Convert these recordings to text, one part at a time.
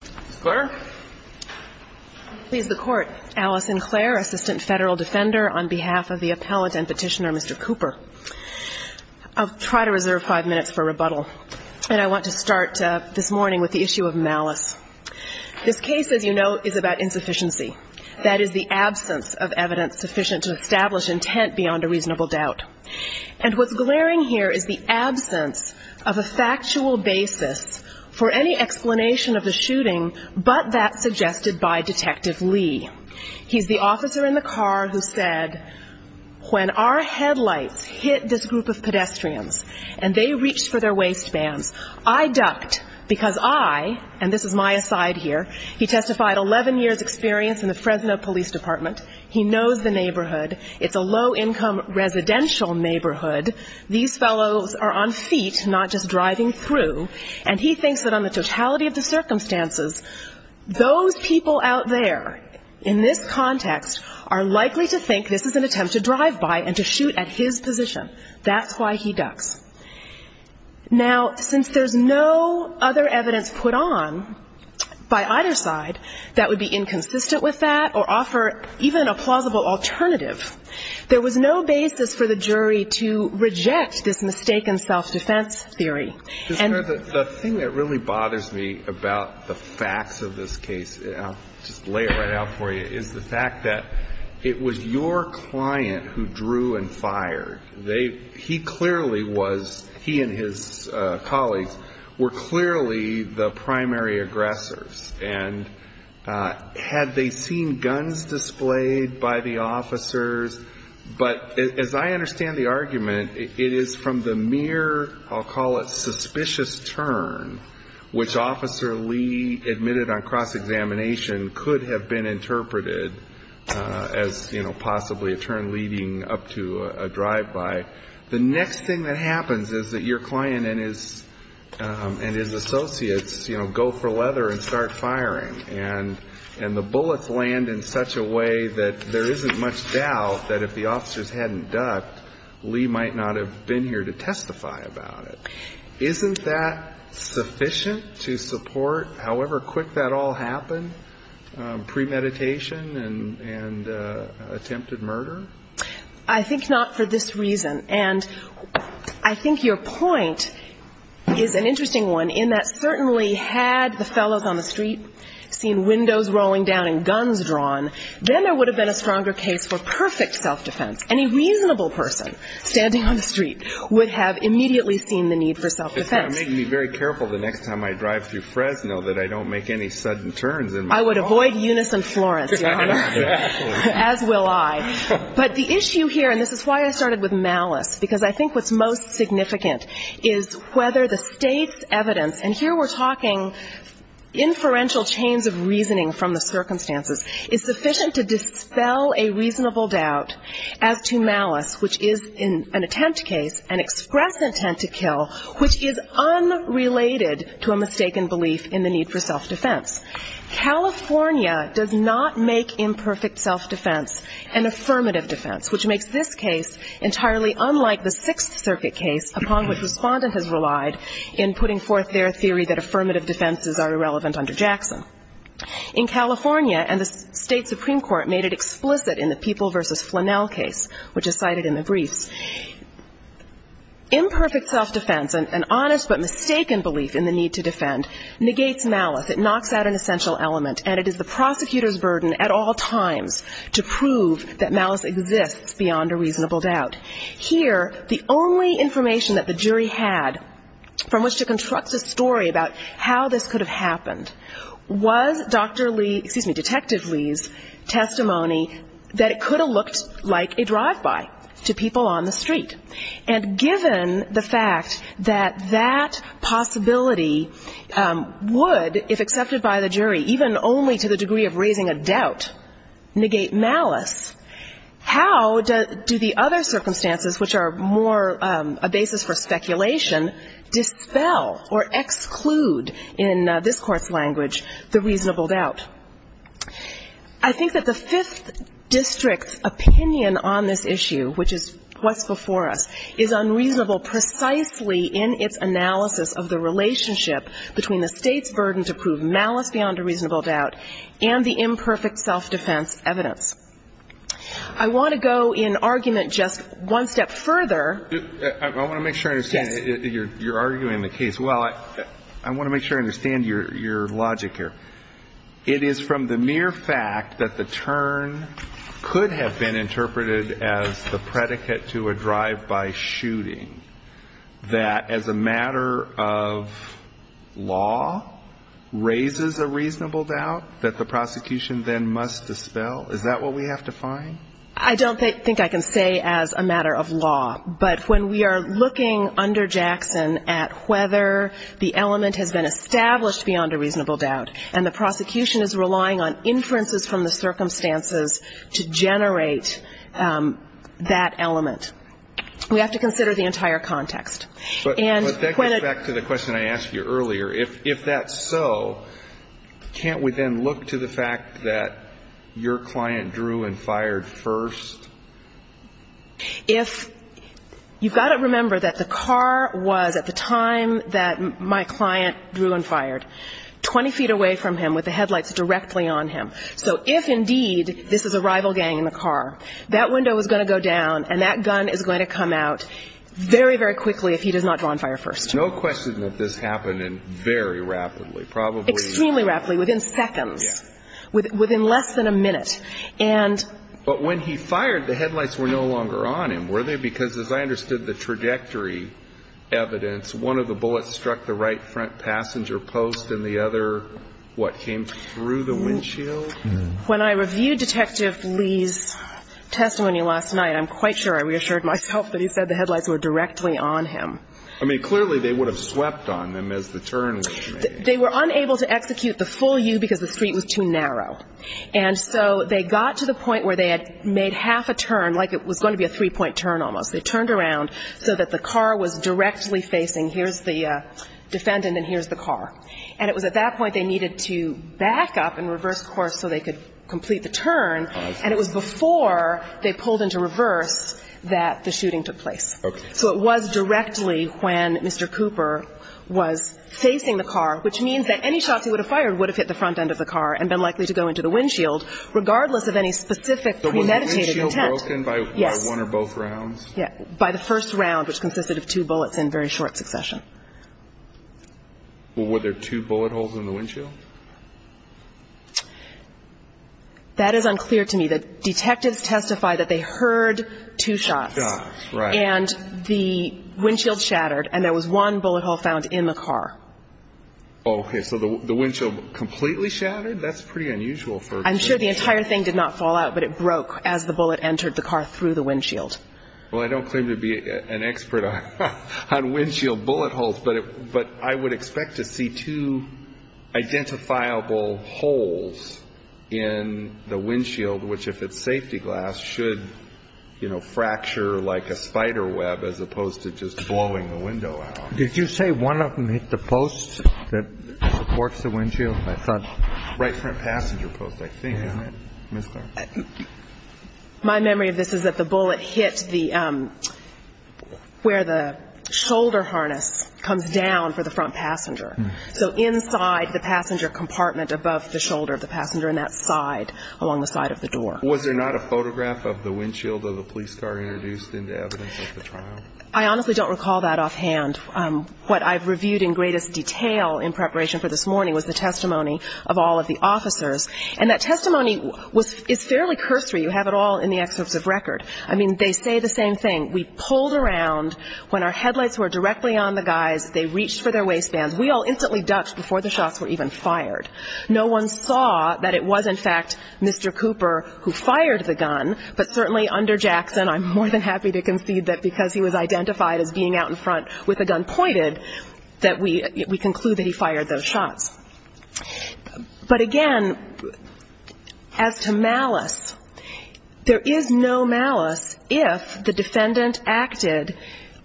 Ms. Clare? I please the Court. Alice and Clare, Assistant Federal Defender on behalf of the appellant and petitioner, Mr. Cooper. I'll try to reserve five minutes for rebuttal, and I want to start this morning with the issue of malice. This case, as you know, is about insufficiency. That is, the absence of evidence sufficient to establish intent beyond a reasonable doubt. And what's glaring here is the absence of a factual basis for any explanation of the shooting, but that suggested by Detective Lee. He's the officer in the car who said, when our headlights hit this group of pedestrians and they reached for their waistbands, I ducked because I, and this is my aside here, he testified 11 years' experience in the Fresno Police Department. He knows the neighborhood. It's a low-income residential neighborhood. These fellows are on feet, not just driving through. And he thinks that on the totality of the circumstances, those people out there in this context are likely to think this is an attempt to drive by and to shoot at his position. That's why he ducks. Now, since there's no other evidence put on by either side that would be inconsistent with that or offer even a plausible alternative, there was no basis for the jury to reject this mistaken self-defense theory. The thing that really bothers me about the facts of this case, I'll just lay it right out for you, is the fact that it was your client who drew and fired. They, he clearly was, he and his colleagues, were clearly the primary aggressors. And had they seen guns displayed by the officers? But as I understand the argument, it is from the mere, I'll call it suspicious turn, which Officer Lee admitted on cross-examination could have been interpreted as, you know, possibly a turn leading up to a drive-by. The next thing that happens is that your client and his associates, you know, go for leather and start firing. And the bullets land in such a way that there isn't much doubt that if the officers hadn't conducted, Lee might not have been here to testify about it. Isn't that sufficient to support however quick that all happened, premeditation and attempted murder? I think not for this reason. And I think your point is an interesting one in that certainly had the fellows on the street seen windows rolling down and guns drawn, then there is a reasonable person standing on the street would have immediately seen the need for self-defense. You're making me very careful the next time I drive through Fresno that I don't make any sudden turns in my car. I would avoid unison Florence, Your Honor. As will I. But the issue here, and this is why I started with malice, because I think what's most significant is whether the state's evidence, and here we're talking inferential chains of reasoning from the circumstances, is sufficient to dispel a reasonable doubt as to malice, which is in an attempt case, an express intent to kill, which is unrelated to a mistaken belief in the need for self-defense. California does not make imperfect self-defense an affirmative defense, which makes this case entirely unlike the Sixth Circuit case upon which the respondent has relied in putting forth their theory that affirmative defenses are irrelevant under Jackson. In California, and the state Supreme Court made it explicit in the People v. Flannel case, which is cited in the briefs, imperfect self-defense, an honest but mistaken belief in the need to defend, negates malice. It knocks out an essential element, and it is the prosecutor's burden at all times to prove that malice exists beyond a reasonable doubt. Here, the only information that the jury had from which to construct a story about how this could have happened was Dr. Lee, excuse me, Detective Lee's testimony that it could have looked like a drive-by to people on the street. And given the fact that that possibility would, if accepted by the jury, even only to the degree of raising a doubt, negate malice, how do the other circumstances, which are more a basis for speculation, dispel or exclude, in this court's language, the reasonable doubt? I think that the Fifth District's opinion on this issue, which is what's before us, is unreasonable precisely in its analysis of the relationship between the state's burden to prove malice beyond a reasonable doubt and the reasonable doubt. I want to go in argument just one step further. I want to make sure I understand. Yes. You're arguing the case. Well, I want to make sure I understand your logic here. It is from the mere fact that the turn could have been interpreted as the predicate to a drive-by shooting that, as a matter of law, raises a reasonable doubt that the element has been established beyond a reasonable doubt. And the prosecution is relying on inferences from the circumstances to generate that element. We have to consider the entire context. But that goes back to the question I asked you earlier. If that's so, can't we then look to the gun that was fired first? If you've got to remember that the car was, at the time that my client drew and fired, 20 feet away from him with the headlights directly on him. So if, indeed, this is a rival gang in the car, that window is going to go down and that gun is going to come out very, very quickly if he does not draw and fire first. No question that this happened very rapidly. Extremely rapidly. Within seconds. Within less than a minute. But when he fired, the headlights were no longer on him, were they? Because as I understood the trajectory evidence, one of the bullets struck the right front passenger post and the other, what, came through the windshield? When I reviewed Detective Lee's testimony last night, I'm quite sure I reassured myself that he said the headlights were directly on him. I mean, clearly they would have swept on them as the turn was made. They were unable to execute the full U because the street was too narrow. And so they got to the point where they had made half a turn, like it was going to be a three-point turn almost. They turned around so that the car was directly facing, here's the defendant and here's the car. And it was at that point they needed to back up and reverse course so they could complete the turn. And it was before they pulled into reverse that the shooting took place. Okay. So it was directly when Mr. Cooper was facing the car, which means that any shots he would have fired would have hit the front end of the car and been likely to go into the windshield, regardless of any specific premeditated attempt. So was the windshield broken by one or both rounds? Yes. By the first round, which consisted of two bullets in very short succession. Well, were there two bullet holes in the windshield? That is unclear to me. The detectives testify that they heard two shots. Ah, right. And the windshield shattered and there was one bullet hole found in the car. Okay. So the windshield completely shattered? That's pretty unusual for a defendant. I'm sure the entire thing did not fall out, but it broke as the bullet entered the car through the windshield. Well, I don't claim to be an expert on windshield bullet holes, but I would expect to see two identifiable holes in the windshield, which if it's safety glass, should, you know, fracture like a spider web as opposed to just blowing the window out. Did you say one of them hit the post that supports the windshield? Right front passenger post, I think, isn't it, Ms. Clark? My memory of this is that the bullet hit where the shoulder harness comes down for the front passenger. So inside the passenger compartment above the shoulder of the passenger and that side, along the side of the door. Was there not a photograph of the windshield of the police car introduced into evidence at the trial? I honestly don't recall that offhand. What I've reviewed in greatest detail in preparation for this morning was the testimony of all of the officers. And that testimony is fairly cursory. You have it all in the excerpts of record. I mean, they say the same thing. We pulled around. When our headlights were directly on the guys, they reached for their waistbands. We all instantly dutched before the shots were even fired. No one saw that it was, in fact, Mr. Cooper who fired the gun. But certainly under Jackson, I'm more than happy to concede that because he was identified as being out in front with a gun pointed, that we conclude that he fired those shots. But again, as to malice, there is no malice if the defendant acted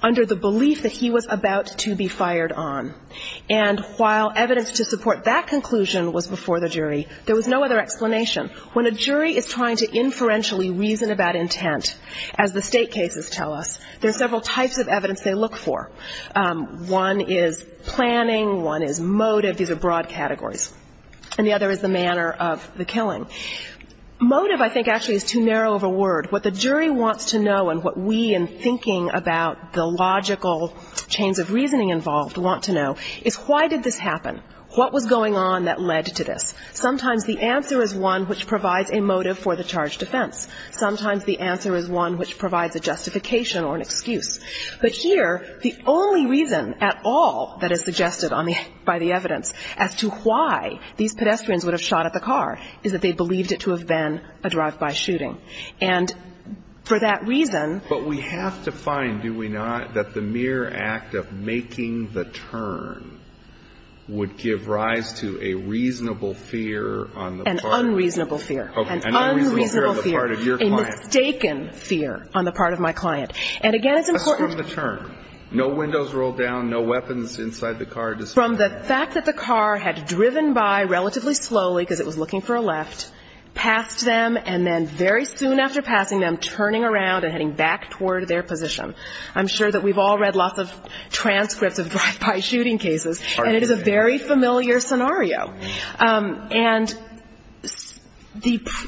under the belief that he was about to be fired on. And while evidence to support that conclusion was before the jury, there was no other explanation. When a jury is trying to inferentially reason about intent, as the state cases tell us, there are several types of evidence they look for. One is planning. One is motive. These are broad categories. And the other is the manner of the killing. Motive, I think, actually is too narrow of a word. What the jury wants to know and what we in thinking about the logical chains of reasoning involved want to know is why did this happen? What was going on that led to this? Sometimes the answer is one which provides a motive for the charged offense. Sometimes the answer is one which provides a justification or an excuse. But here, the only reason at all that is suggested by the evidence as to why these pedestrians would have shot at the car is that they believed it to have been a drive-by shooting. And for that reason But we have to find, do we not, that the mere act of making the turn would give rise to a reasonable fear on the part of your client? An unreasonable fear. An unreasonable fear. A mistaken fear on the part of my client. And again, it's important to... Assume the turn. No windows rolled down, no weapons inside the car. From the fact that the car had driven by relatively slowly, because it was looking for a left, passed them, and then very soon after passing them, turning around and heading back toward their position. I'm sure that we've all read lots of cases, and it is a very familiar scenario. And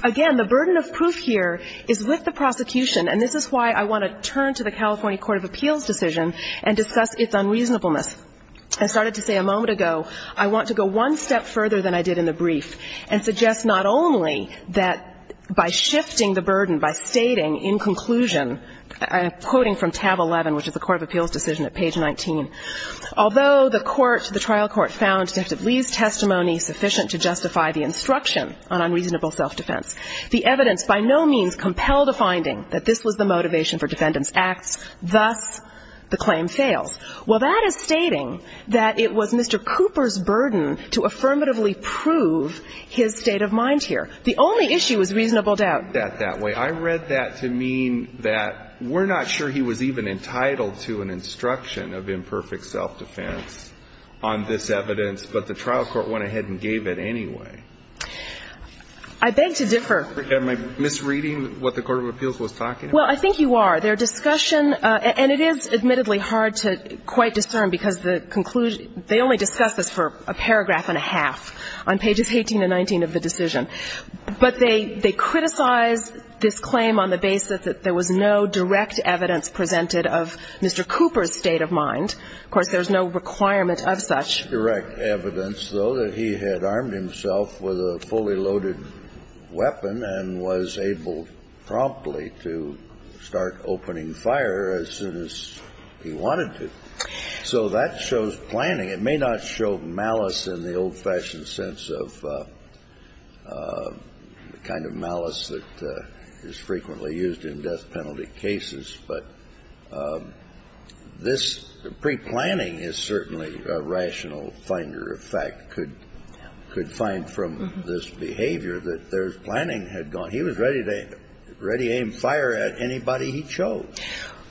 again, the burden of proof here is with the prosecution, and this is why I want to turn to the California Court of Appeals decision and discuss its unreasonableness. I started to say a moment ago, I want to go one step further than I did in the brief and suggest not only that by shifting the burden, by stating in conclusion, I'm quoting from tab 11, which is the Court of Appeals decision at page 19, although the court to the trial court found Detective Lee's testimony sufficient to justify the instruction on unreasonable self-defense. The evidence by no means compelled a finding that this was the motivation for defendant's acts. Thus, the claim fails. Well, that is stating that it was Mr. Cooper's burden to affirmatively prove his state of mind here. The only issue is reasonable doubt. I read that that way. I read that to mean that we're not sure he was even entitled to an instruction of imperfect self-defense on this evidence, but the trial court went ahead and gave it anyway. I beg to differ. Am I misreading what the Court of Appeals was talking about? Well, I think you are. Their discussion, and it is admittedly hard to quite discern because the conclusion they only discussed this for a paragraph and a half on pages 18 and 19 of the decision. But they criticized this claim on the basis that there was no direct evidence presented of Mr. Cooper's state of mind. Of course, there's no requirement of such direct evidence, though, that he had armed himself with a fully loaded weapon and was able promptly to start opening fire as soon as he wanted to. So that shows planning. It may not show malice in the old-fashioned sense of the kind of malice that is frequently used in death penalty cases, but this pre-planning is certainly a rational finder of fact, could find from this behavior that there's planning had gone. He was ready to aim fire at anybody he chose.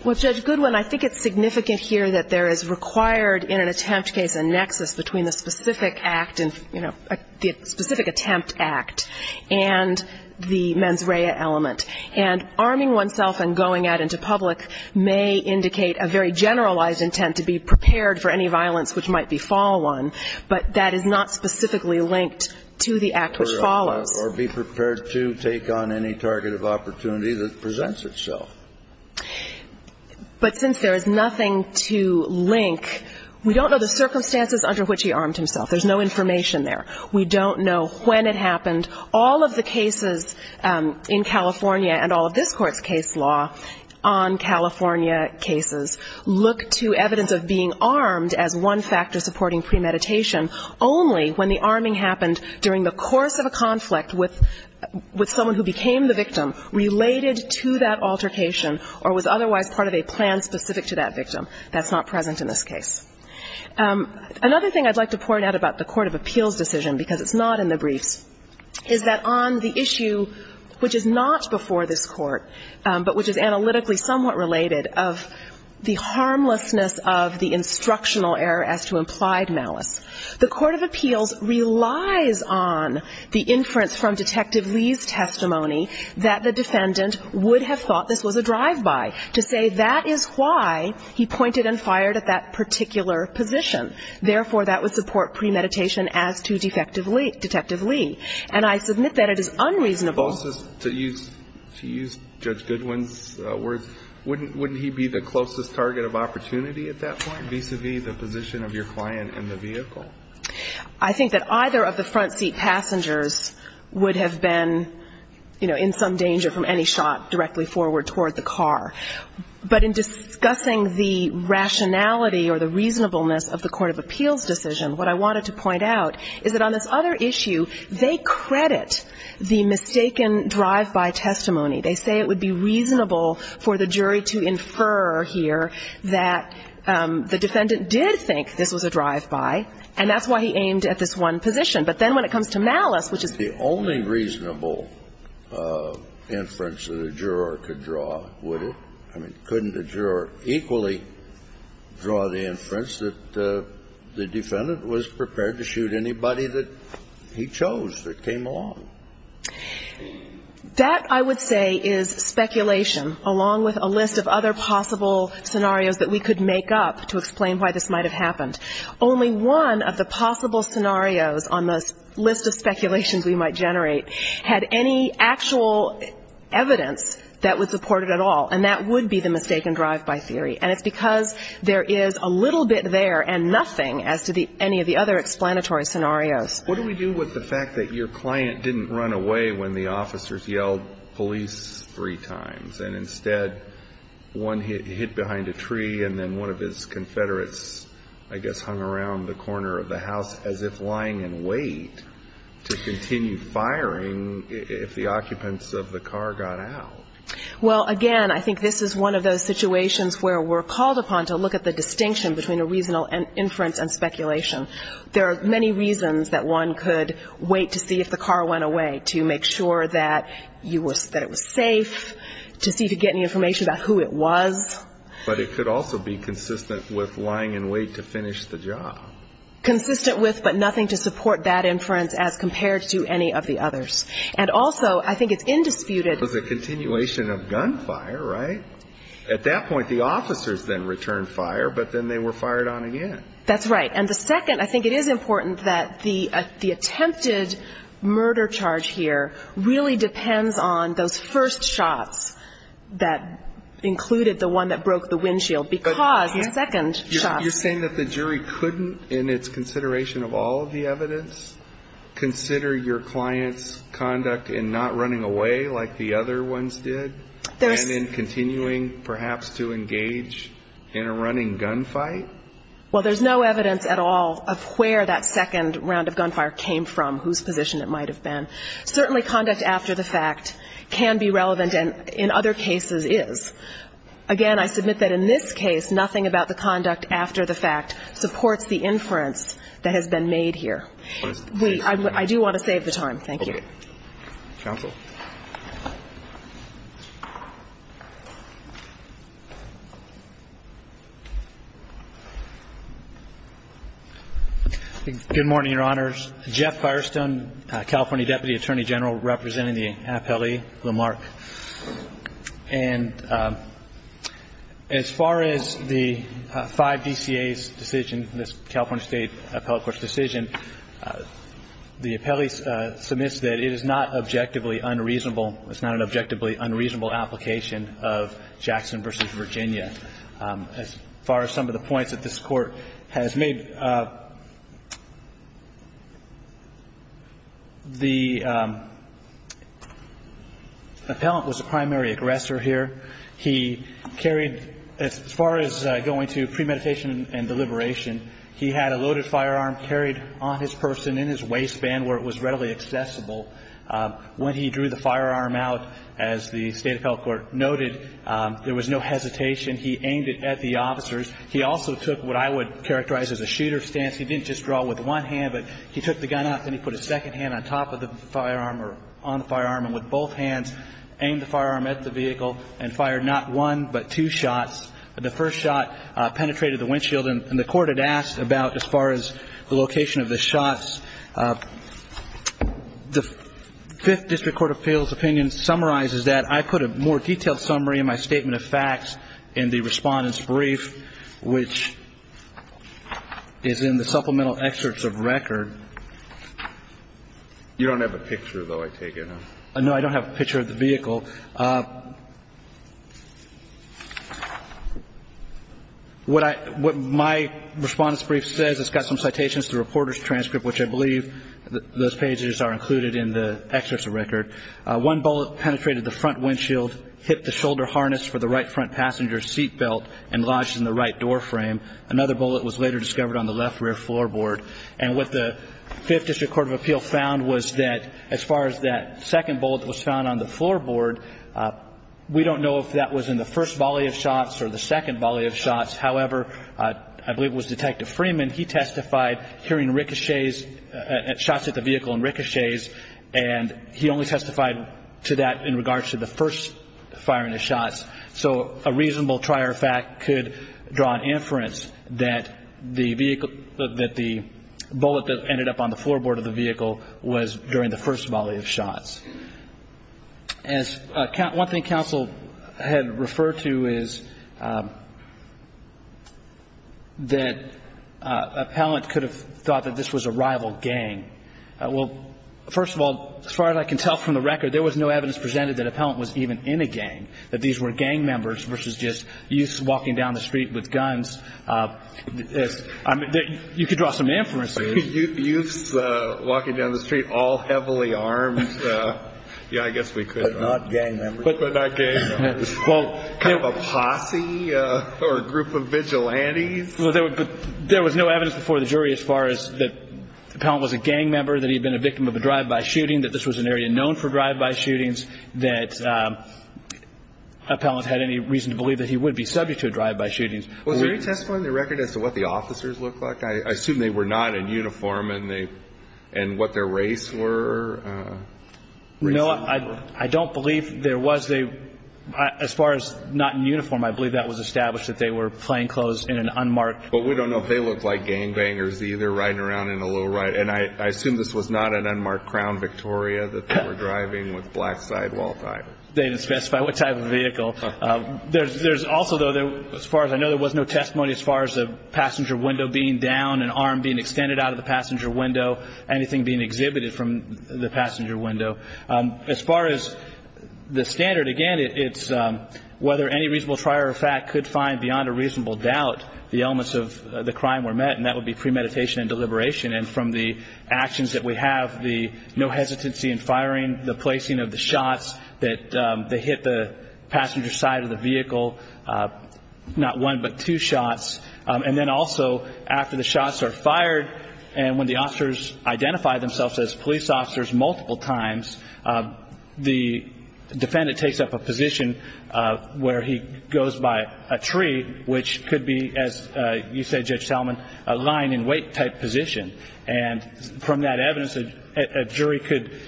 Well, Judge Goodwin, I think it's significant here that there is required in an attempt case a nexus between the specific act and, you know, the specific attempt act and the mens rea element. And arming oneself and going at it into public may indicate a very generalized intent to be prepared for any violence which might befall one, but that is not specifically linked to the act which follows. Or be prepared to take on any target of opportunity that presents itself. But since there is nothing to link, we don't know the circumstances under which he armed himself. There's no information there. We don't know when it happened. And so we would not, in the case of the one California cases, look to evidence of being armed as one factor supporting premeditation only when the arming happened during the course of a conflict with someone who became the victim related to that altercation or was otherwise part of a plan specific to that victim. That's not present in this case. Another thing I'd like to point out about the court of appeals decision, because it's not in the briefs, is that on the issue which is not before this court, but which is analytically somewhat related, of the harmlessness of the instructional error as to implied malice, the court of appeals relies on the inference from Detective Lee's testimony that the defendant would have thought this was a drive-by to say that is why he pointed and fired at that particular position. Therefore, that would support premeditation as to Detective Lee. And I submit that it is unreasonable to use Judge Goodwin's words, wouldn't he be the closest target of opportunity at that point vis-a-vis the position of your client in the vehicle? I think that either of the front seat passengers would have been, you know, in some danger from any shot directly forward toward the car. But in discussing the rationality or the reasonableness of the court of appeals decision, what I wanted to point out is that on this other issue, they credit the mistaken drive-by testimony. They say it would be reasonable for the jury to infer here that the defendant did think this was a drive-by, and that's why he aimed at this one position. But then when it comes to malice, which is the only reasonable inference that a juror could draw, would it? I mean, couldn't a juror equally draw the inference that the defendant was prepared to shoot anybody that he chose that came along? That, I would say, is speculation, along with a list of other possible scenarios that we could make up to explain why this might have happened. Only one of the possible scenarios on this list of speculations we might generate had any actual evidence that would support it at all, and that would be the mistaken drive-by theory. And it's because there is a little bit there and nothing as to any of the other explanatory scenarios. What do we do with the fact that your client didn't run away when the officers yelled police three times, and instead one hit behind a tree and then one of his Confederates, I guess, hung around the corner of the house as if lying in wait to continue firing if the occupants of the car got out? Well, again, I think this is one of those situations where we're called upon to look at the distinction between a reasonable inference and speculation. There are many reasons that one could wait to see if the car went away, to make sure that it was safe, to see if you could get any information about who it was. But it could also be consistent with lying in wait to finish the job. Consistent with, but nothing to support that inference as compared to any of the others. And also, I think it's indisputed. It was a continuation of gunfire, right? At that point, the officers then returned fire, but then they were fired on again. That's right. And the second, I think it is important that the attempted murder charge here really depends on those first shots that included the one that broke the windshield, because the second shot. You're saying that the jury couldn't, in its consideration of all of the evidence, consider your client's conduct in not running away like the other ones did? And in continuing, perhaps, to engage in a running gunfight? Well, there's no evidence at all of where that second round of gunfire came from, whose position it might have been. Certainly conduct after the fact can be relevant, and in other cases is. Again, I submit that in this case, nothing about the conduct after the fact supports the inference that has been made here. I do want to save the time. Thank you. Good morning, Your Honors. Jeff Firestone, California Deputy Attorney General, representing the California State Appellate Court. And as far as the 5 DCA's decision, this California State Appellate Court's decision, the appellee submits that it is not objectively unreasonable. It's not an objectively unreasonable application of Jackson v. Virginia. As far as some of the points that this Court has made, the appellant was a primary aggressor here. He carried, as far as going to premeditation and deliberation, he had a loaded firearm carried on his person in his waistband where it was readily accessible. When he drew the firearm out, as the State Appellate Court noted, there was no hesitation. He aimed it at the officers. He also took what I would characterize as a shooter stance. He didn't just draw with one hand, but he took the gun out and he put his second hand on top of the firearm or on the firearm and with both hands aimed the firearm at the vehicle and fired not one but two shots. The first shot penetrated the windshield and the Court had asked about, as far as the location of the shots, the 5th District Court of Appeals opinion summarizes that. I put a more detailed summary in my Statement of Facts in the Respondent's Brief, which is in the supplemental excerpts of record. You don't have a picture, though, I take it? No, I don't have a picture of the vehicle. What my Respondent's Brief says, it's got some citations, the reporter's transcript, which I believe those pages are included in the excerpts of record. One bullet penetrated the front windshield, hit the shoulder harness for the right front passenger seat belt and lodged in the right door frame. Another bullet was later discovered on the left rear floorboard. And what the 5th District Court of Appeals found was that, as far as that second bullet that was found on the floorboard, we don't know if that was in the first volley of shots or the second volley of shots. However, I believe it was Detective Freeman, he testified hearing ricochets, shots at the vehicle and ricochets, and he only testified to that in regards to the first firing of shots. So a reasonable trier of fact could draw an inference that the bullet that ended up on the floorboard of the vehicle was during the first volley of shots. One thing counsel had referred to is that Appellant could have thought that this was a rival gang. Well, first of all, as far as I can tell from the record, there was no evidence presented that Appellant was even in a gang, that these were gang members versus just youths walking down the street with guns. I mean, you could draw some inferences. Youths walking down the street all heavily armed? Yeah, I guess we could. But not gang members? Kind of a posse or a group of vigilantes? There was no evidence before the jury as far as that Appellant was a gang member, that he had been a victim of a drive-by shooting, that this was an area known for drive-by shootings, that Appellant had any reason to believe that he would be subject to a drive-by shooting. Was there any testimony in the record as to what the officers looked like? I assume they were not in uniform and what their race were? No, I don't believe there was. As far as not in uniform, I believe that was established that they were playing clothes in an unmarked. But we don't know if they looked like gangbangers either, riding around in a low ride. And I assume this was not an unmarked Crown Victoria that they were driving with black sidewall tires. They didn't specify what type of vehicle. There's also, though, as far as I know, there was no testimony as far as a passenger window being down, an arm being extended out of the passenger window, anything being exhibited from the passenger window. As far as the standard, again, it's whether any reasonable trier of fact could find beyond a reasonable doubt the elements of the crime were met, and that would be premeditation and deliberation. And from the actions that we have, the no hesitancy in firing, the placing of the shots that hit the passenger side of the vehicle, not one but two shots, and then also after the shots are fired and when the officers identify themselves as police officers multiple times, the defendant takes up a position where he goes by a tree, which could be, as you said, Judge Tallman, a lying in wait type position. And from that evidence, a jury could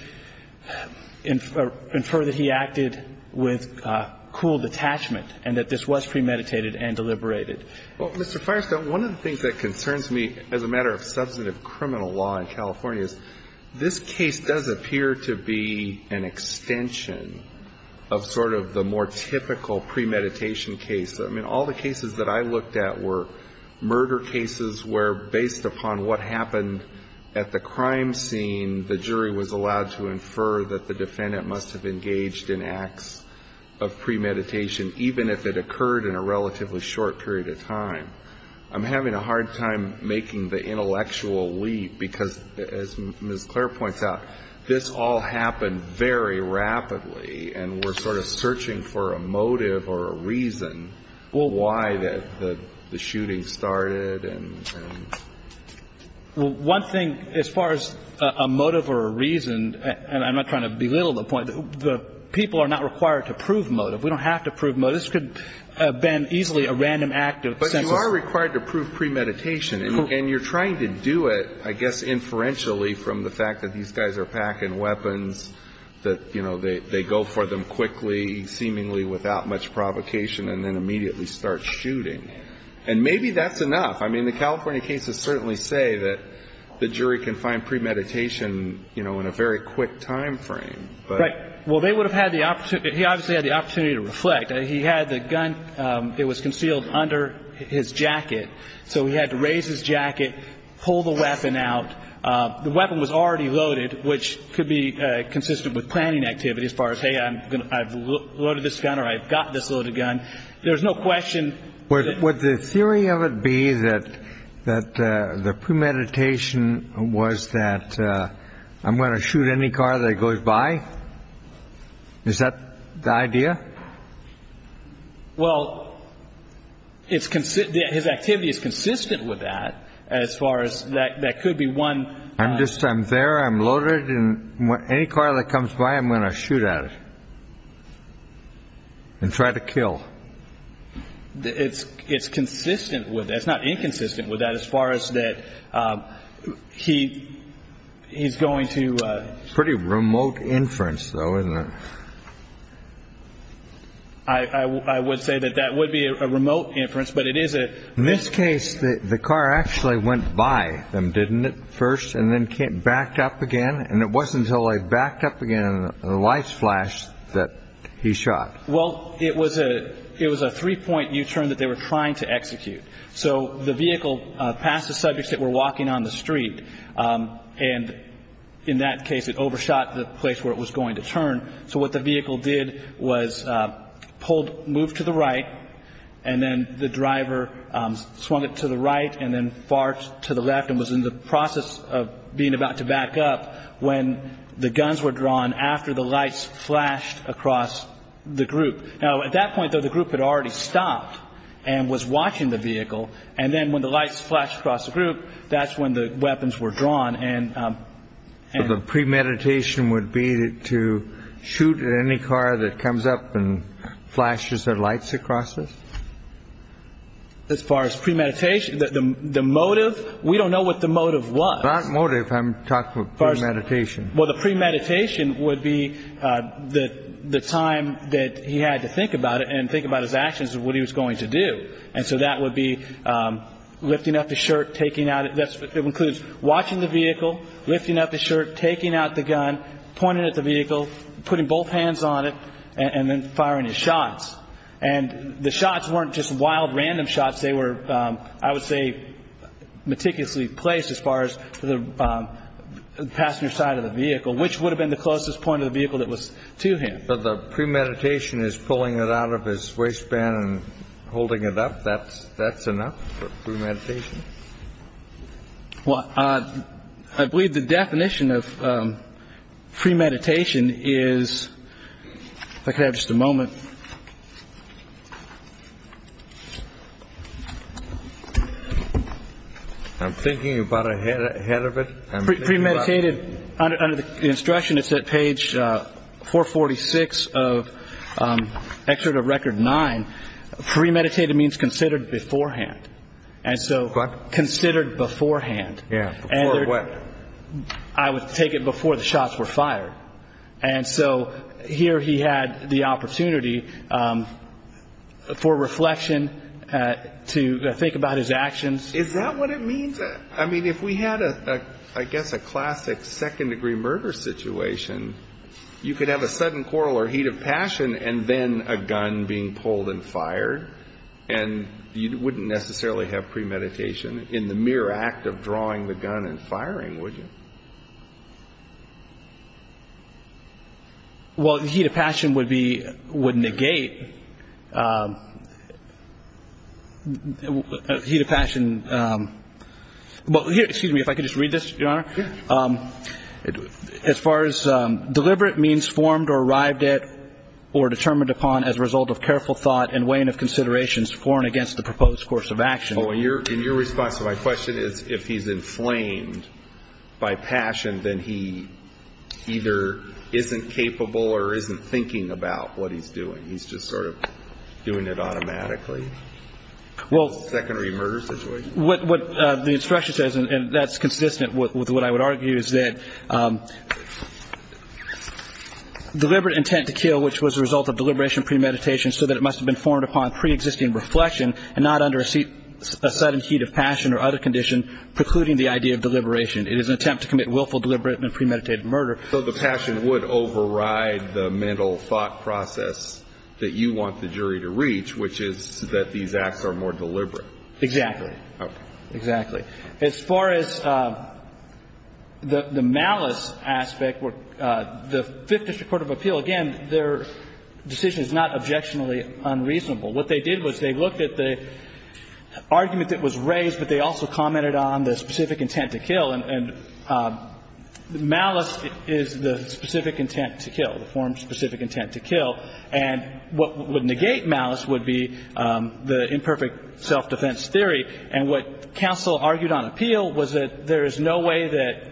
infer that he acted with cool detachment, and that this was premeditated and deliberated. Well, Mr. Firestone, one of the things that concerns me as a matter of substantive criminal law in California is this case does appear to be an extension of sort of the more typical premeditation case. I mean, all the cases that I looked at were murder cases where based upon what happened at the crime scene, the jury was allowed to infer that the defendant must have engaged in acts of premeditation, even if it occurred in a relatively short period of time. I'm having a hard time making the intellectual leap, because as Ms. Clare points out, this all happened very rapidly, and we're sort of searching for a motive or a reason why the shooting started. Well, one thing, as far as a motive or a reason, and I'm not trying to belittle the point, the people are not required to prove motive. We don't have to prove motive. This could have been easily a random act of the senses. But you are required to prove premeditation, and you're trying to do it, I guess, inferentially from the fact that these guys are packing weapons, that, you know, they go for them quickly, seemingly without much provocation, and then immediately start shooting. And maybe that's enough. I mean, the California cases certainly say that the jury can find premeditation, you know, in a very quick time frame. Right. Well, they would have had the opportunity. He obviously had the opportunity to reflect. He had the gun. It was concealed under his jacket. So he had to raise his jacket, pull the weapon out. The weapon was already loaded, which could be consistent with planning activity as far as, hey, I've loaded this gun or I've got this loaded gun. There's no question. Would the theory of it be that the premeditation was that I'm going to shoot any car that goes by? Is that the idea? Well, his activity is consistent with that as far as that could be one. I'm there, I'm loaded, and any car that comes by, I'm going to shoot at it and try to kill. It's consistent with that. It's not inconsistent with that as far as that he's going to. Pretty remote inference, though, isn't it? I would say that that would be a remote inference, but it is a... And it wasn't until I backed up again and the lights flashed that he shot. Well, it was a three-point U-turn that they were trying to execute. So the vehicle passed the subjects that were walking on the street, and in that case it overshot the place where it was going to turn. So what the vehicle did was move to the right, and then the driver swung it to the right and then far to the left and was in the process of being about to back up when the guns were drawn after the lights flashed across the group. Now, at that point, though, the group had already stopped and was watching the vehicle, and then when the lights flashed across the group, that's when the weapons were drawn. So the premeditation would be to shoot at any car that comes up and flashes their lights across it? As far as premeditation, the motive, we don't know what the motive was. What motive? I'm talking about premeditation. Well, the premeditation would be the time that he had to think about it and think about his actions and what he was going to do. And so that would be lifting up the shirt, taking out it. It includes watching the vehicle, lifting up the shirt, taking out the gun, pointing at the vehicle, putting both hands on it, and then firing his shots. And the shots weren't just wild random shots. They were, I would say, meticulously placed as far as the passenger side of the vehicle, which would have been the closest point of the vehicle that was to him. So the premeditation is pulling it out of his waistband and holding it up. That's enough for premeditation? Well, I believe the definition of premeditation is, if I could have just a moment. I'm thinking about ahead of it. Premeditated, under the instruction, it's at page 446 of Excerpt of Record 9. Premeditated means considered beforehand. And so considered beforehand. Yeah, before what? I would take it before the shots were fired. And so here he had the opportunity for reflection, to think about his actions. Is that what it means? I mean, if we had, I guess, a classic second-degree murder situation, you could have a sudden quarrel or heat of passion and then a gun being pulled and fired. And you wouldn't necessarily have premeditation in the mere act of drawing the gun and firing, would you? Well, heat of passion would negate heat of passion. Excuse me, if I could just read this, Your Honor. Sure. As far as deliberate means formed or arrived at or determined upon as a result of careful thought and weighing of considerations for and against the proposed course of action. Oh, and your response to my question is, if he's inflamed by passion, then he either isn't capable or isn't thinking about what he's doing. He's just sort of doing it automatically. Well, the instruction says, and that's consistent with what I would argue, is that deliberate intent to kill, which was a result of deliberation premeditation, so that it must have been formed upon preexisting reflection and not under a sudden heat of passion or other condition precluding the idea of deliberation. It is an attempt to commit willful, deliberate and premeditated murder. So the passion would override the mental thought process that you want the jury to reach, which is that these acts are more deliberate. Exactly. Okay. Exactly. As far as the malice aspect, the Fifth District Court of Appeal, again, their decision is not objectionably unreasonable. What they did was they looked at the argument that was raised, but they also commented on the specific intent to kill. And malice is the specific intent to kill, the form specific intent to kill. And what would negate malice would be the imperfect self-defense theory. And what counsel argued on appeal was that there is no way that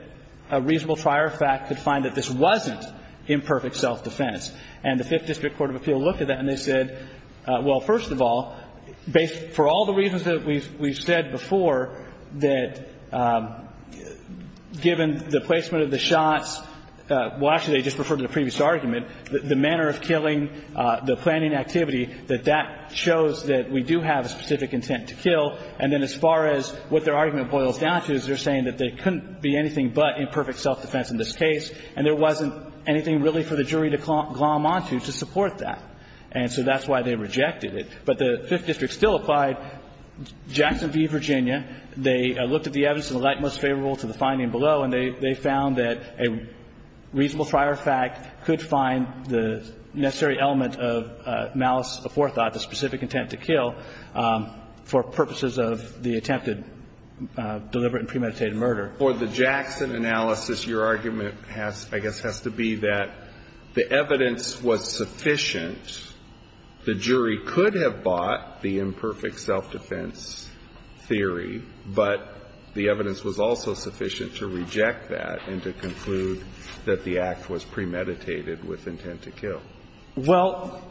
a reasonable prior fact could find that this wasn't imperfect self-defense. And the Fifth District Court of Appeal looked at that and they said, well, first of all, for all the reasons that we've said before, that given the placement of the shots – well, actually, they just referred to the previous argument – the manner of killing, the planning activity, that that shows that we do have a specific intent to kill. And then as far as what their argument boils down to is they're saying that there couldn't be anything but imperfect self-defense in this case and there wasn't anything really for the jury to glom onto to support that. And so that's why they rejected it. But the Fifth District still applied. Jackson v. Virginia, they looked at the evidence in the light most favorable to the finding below and they found that a reasonable prior fact could find the necessary element of malice aforethought, the specific intent to kill, for purposes of the attempted deliberate and premeditated murder. For the Jackson analysis, your argument has, I guess, has to be that the evidence was sufficient. The jury could have bought the imperfect self-defense theory, but the evidence was also sufficient to reject that and to conclude that the act was premeditated with intent to kill. Well,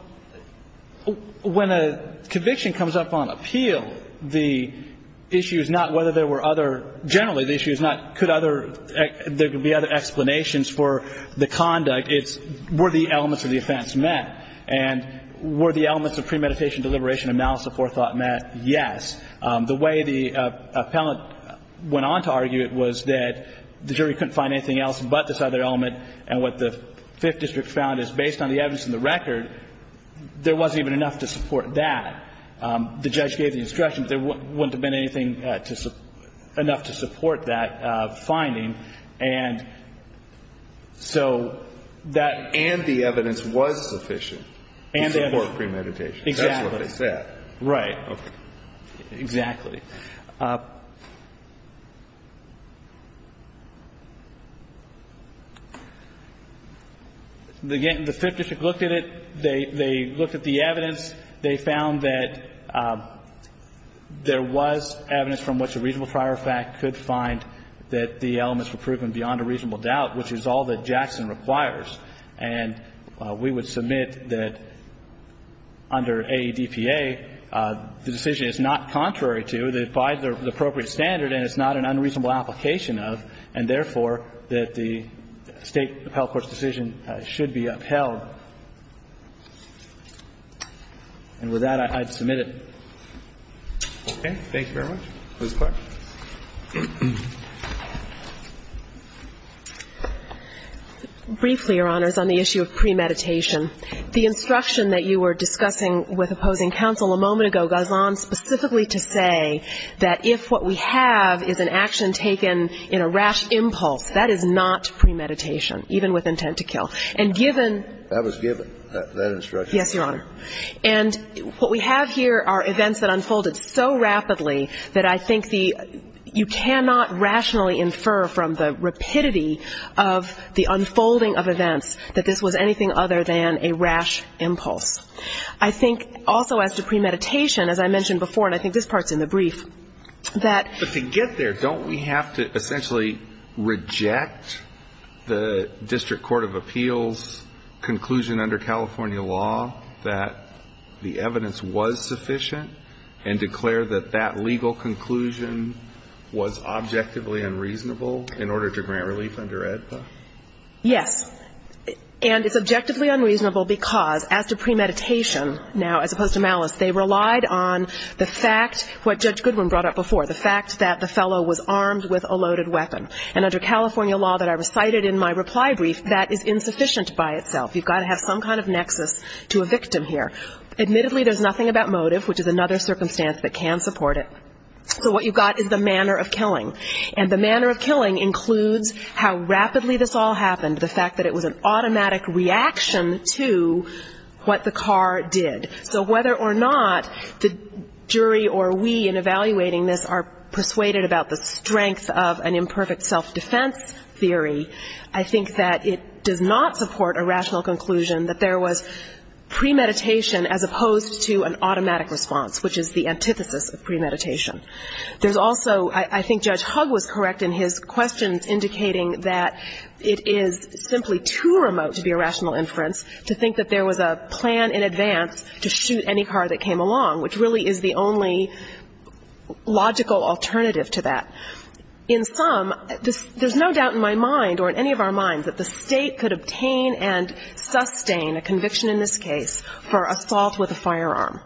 when a conviction comes up on appeal, the issue is not whether there were other – generally the issue is not could other – there could be other explanations for the conduct. It's were the elements of the offense met. And were the elements of premeditation, deliberation, and malice aforethought met? Yes. The way the appellant went on to argue it was that the jury couldn't find anything else but this other element. And what the Fifth District found is based on the evidence in the record, there wasn't even enough to support that. The judge gave the instruction, but there wouldn't have been anything to – enough to support that finding. And so that – And the evidence was sufficient to support premeditation. Exactly. That's what they said. Right. Exactly. Again, the Fifth District looked at it. They looked at the evidence. They found that there was evidence from which a reasonable prior effect could find that the elements were proven beyond a reasonable doubt, which is all that Jackson requires. And we would submit that under AEDPA, the decision is not contrary to, that by the appropriate standard, and it's not an unreasonable application of, and therefore, that the State appellate court's decision should be upheld. And with that, I'd submit it. Okay. Thank you very much. Ms. Clark. Briefly, Your Honors, on the issue of premeditation, the instruction that you were discussing with opposing counsel a moment ago goes on specifically to say that if what we have is an action taken in a rash impulse, that is not premeditation, even with intent to kill. And given – That was given, that instruction. Yes, Your Honor. And what we have here are events that unfolded so rapidly that I think the – you cannot rationally infer from the rapidity of the unfolding of events that this was anything other than a rash impulse. I think also as to premeditation, as I mentioned before, and I think this part's in the brief, that – But to get there, don't we have to essentially reject the District Court of Appeals conclusion under California law that the evidence was sufficient and declare that that legal conclusion was objectively unreasonable in order to grant relief under AEDPA? Yes. And it's objectively unreasonable because as to premeditation now, as opposed to malice, they relied on the fact – what Judge Goodwin brought up before, the fact that the fellow was armed with a loaded weapon. And under California law that I recited in my reply brief, that is insufficient by itself. You've got to have some kind of nexus to a victim here. Admittedly, there's nothing about motive, which is another circumstance that can support it. So what you've got is the manner of killing. And the manner of killing includes how rapidly this all happened, the fact that it was an automatic reaction to what the car did. So whether or not the jury or we in evaluating this are persuaded about the strength of an imperfect self-defense theory, I think that it does not support a rational conclusion that there was premeditation as opposed to an automatic response, which is the antithesis of premeditation. There's also – I think Judge Hugg was correct in his questions indicating that it is simply too remote to be a rational inference to think that there was a plan in advance to shoot any car that came along, which really is the only logical alternative to that. In sum, there's no doubt in my mind or in any of our minds that the State could obtain and sustain a conviction in this case for assault with a firearm,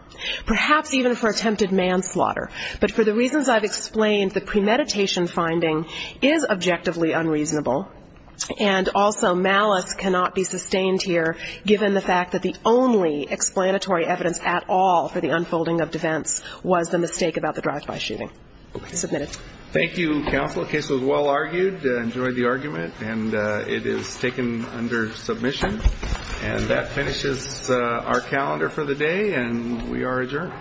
perhaps even for attempted manslaughter. But for the reasons I've explained, the premeditation finding is objectively unreasonable, and also malice cannot be sustained here given the fact that the only explanatory evidence at all for the unfolding of defense was the mistake about the drive-by shooting. Submitted. Thank you, Counsel. The case was well argued. I enjoyed the argument. And it is taken under submission. And that finishes our calendar for the day, and we are adjourned. Thank you. Thank you. Thank you.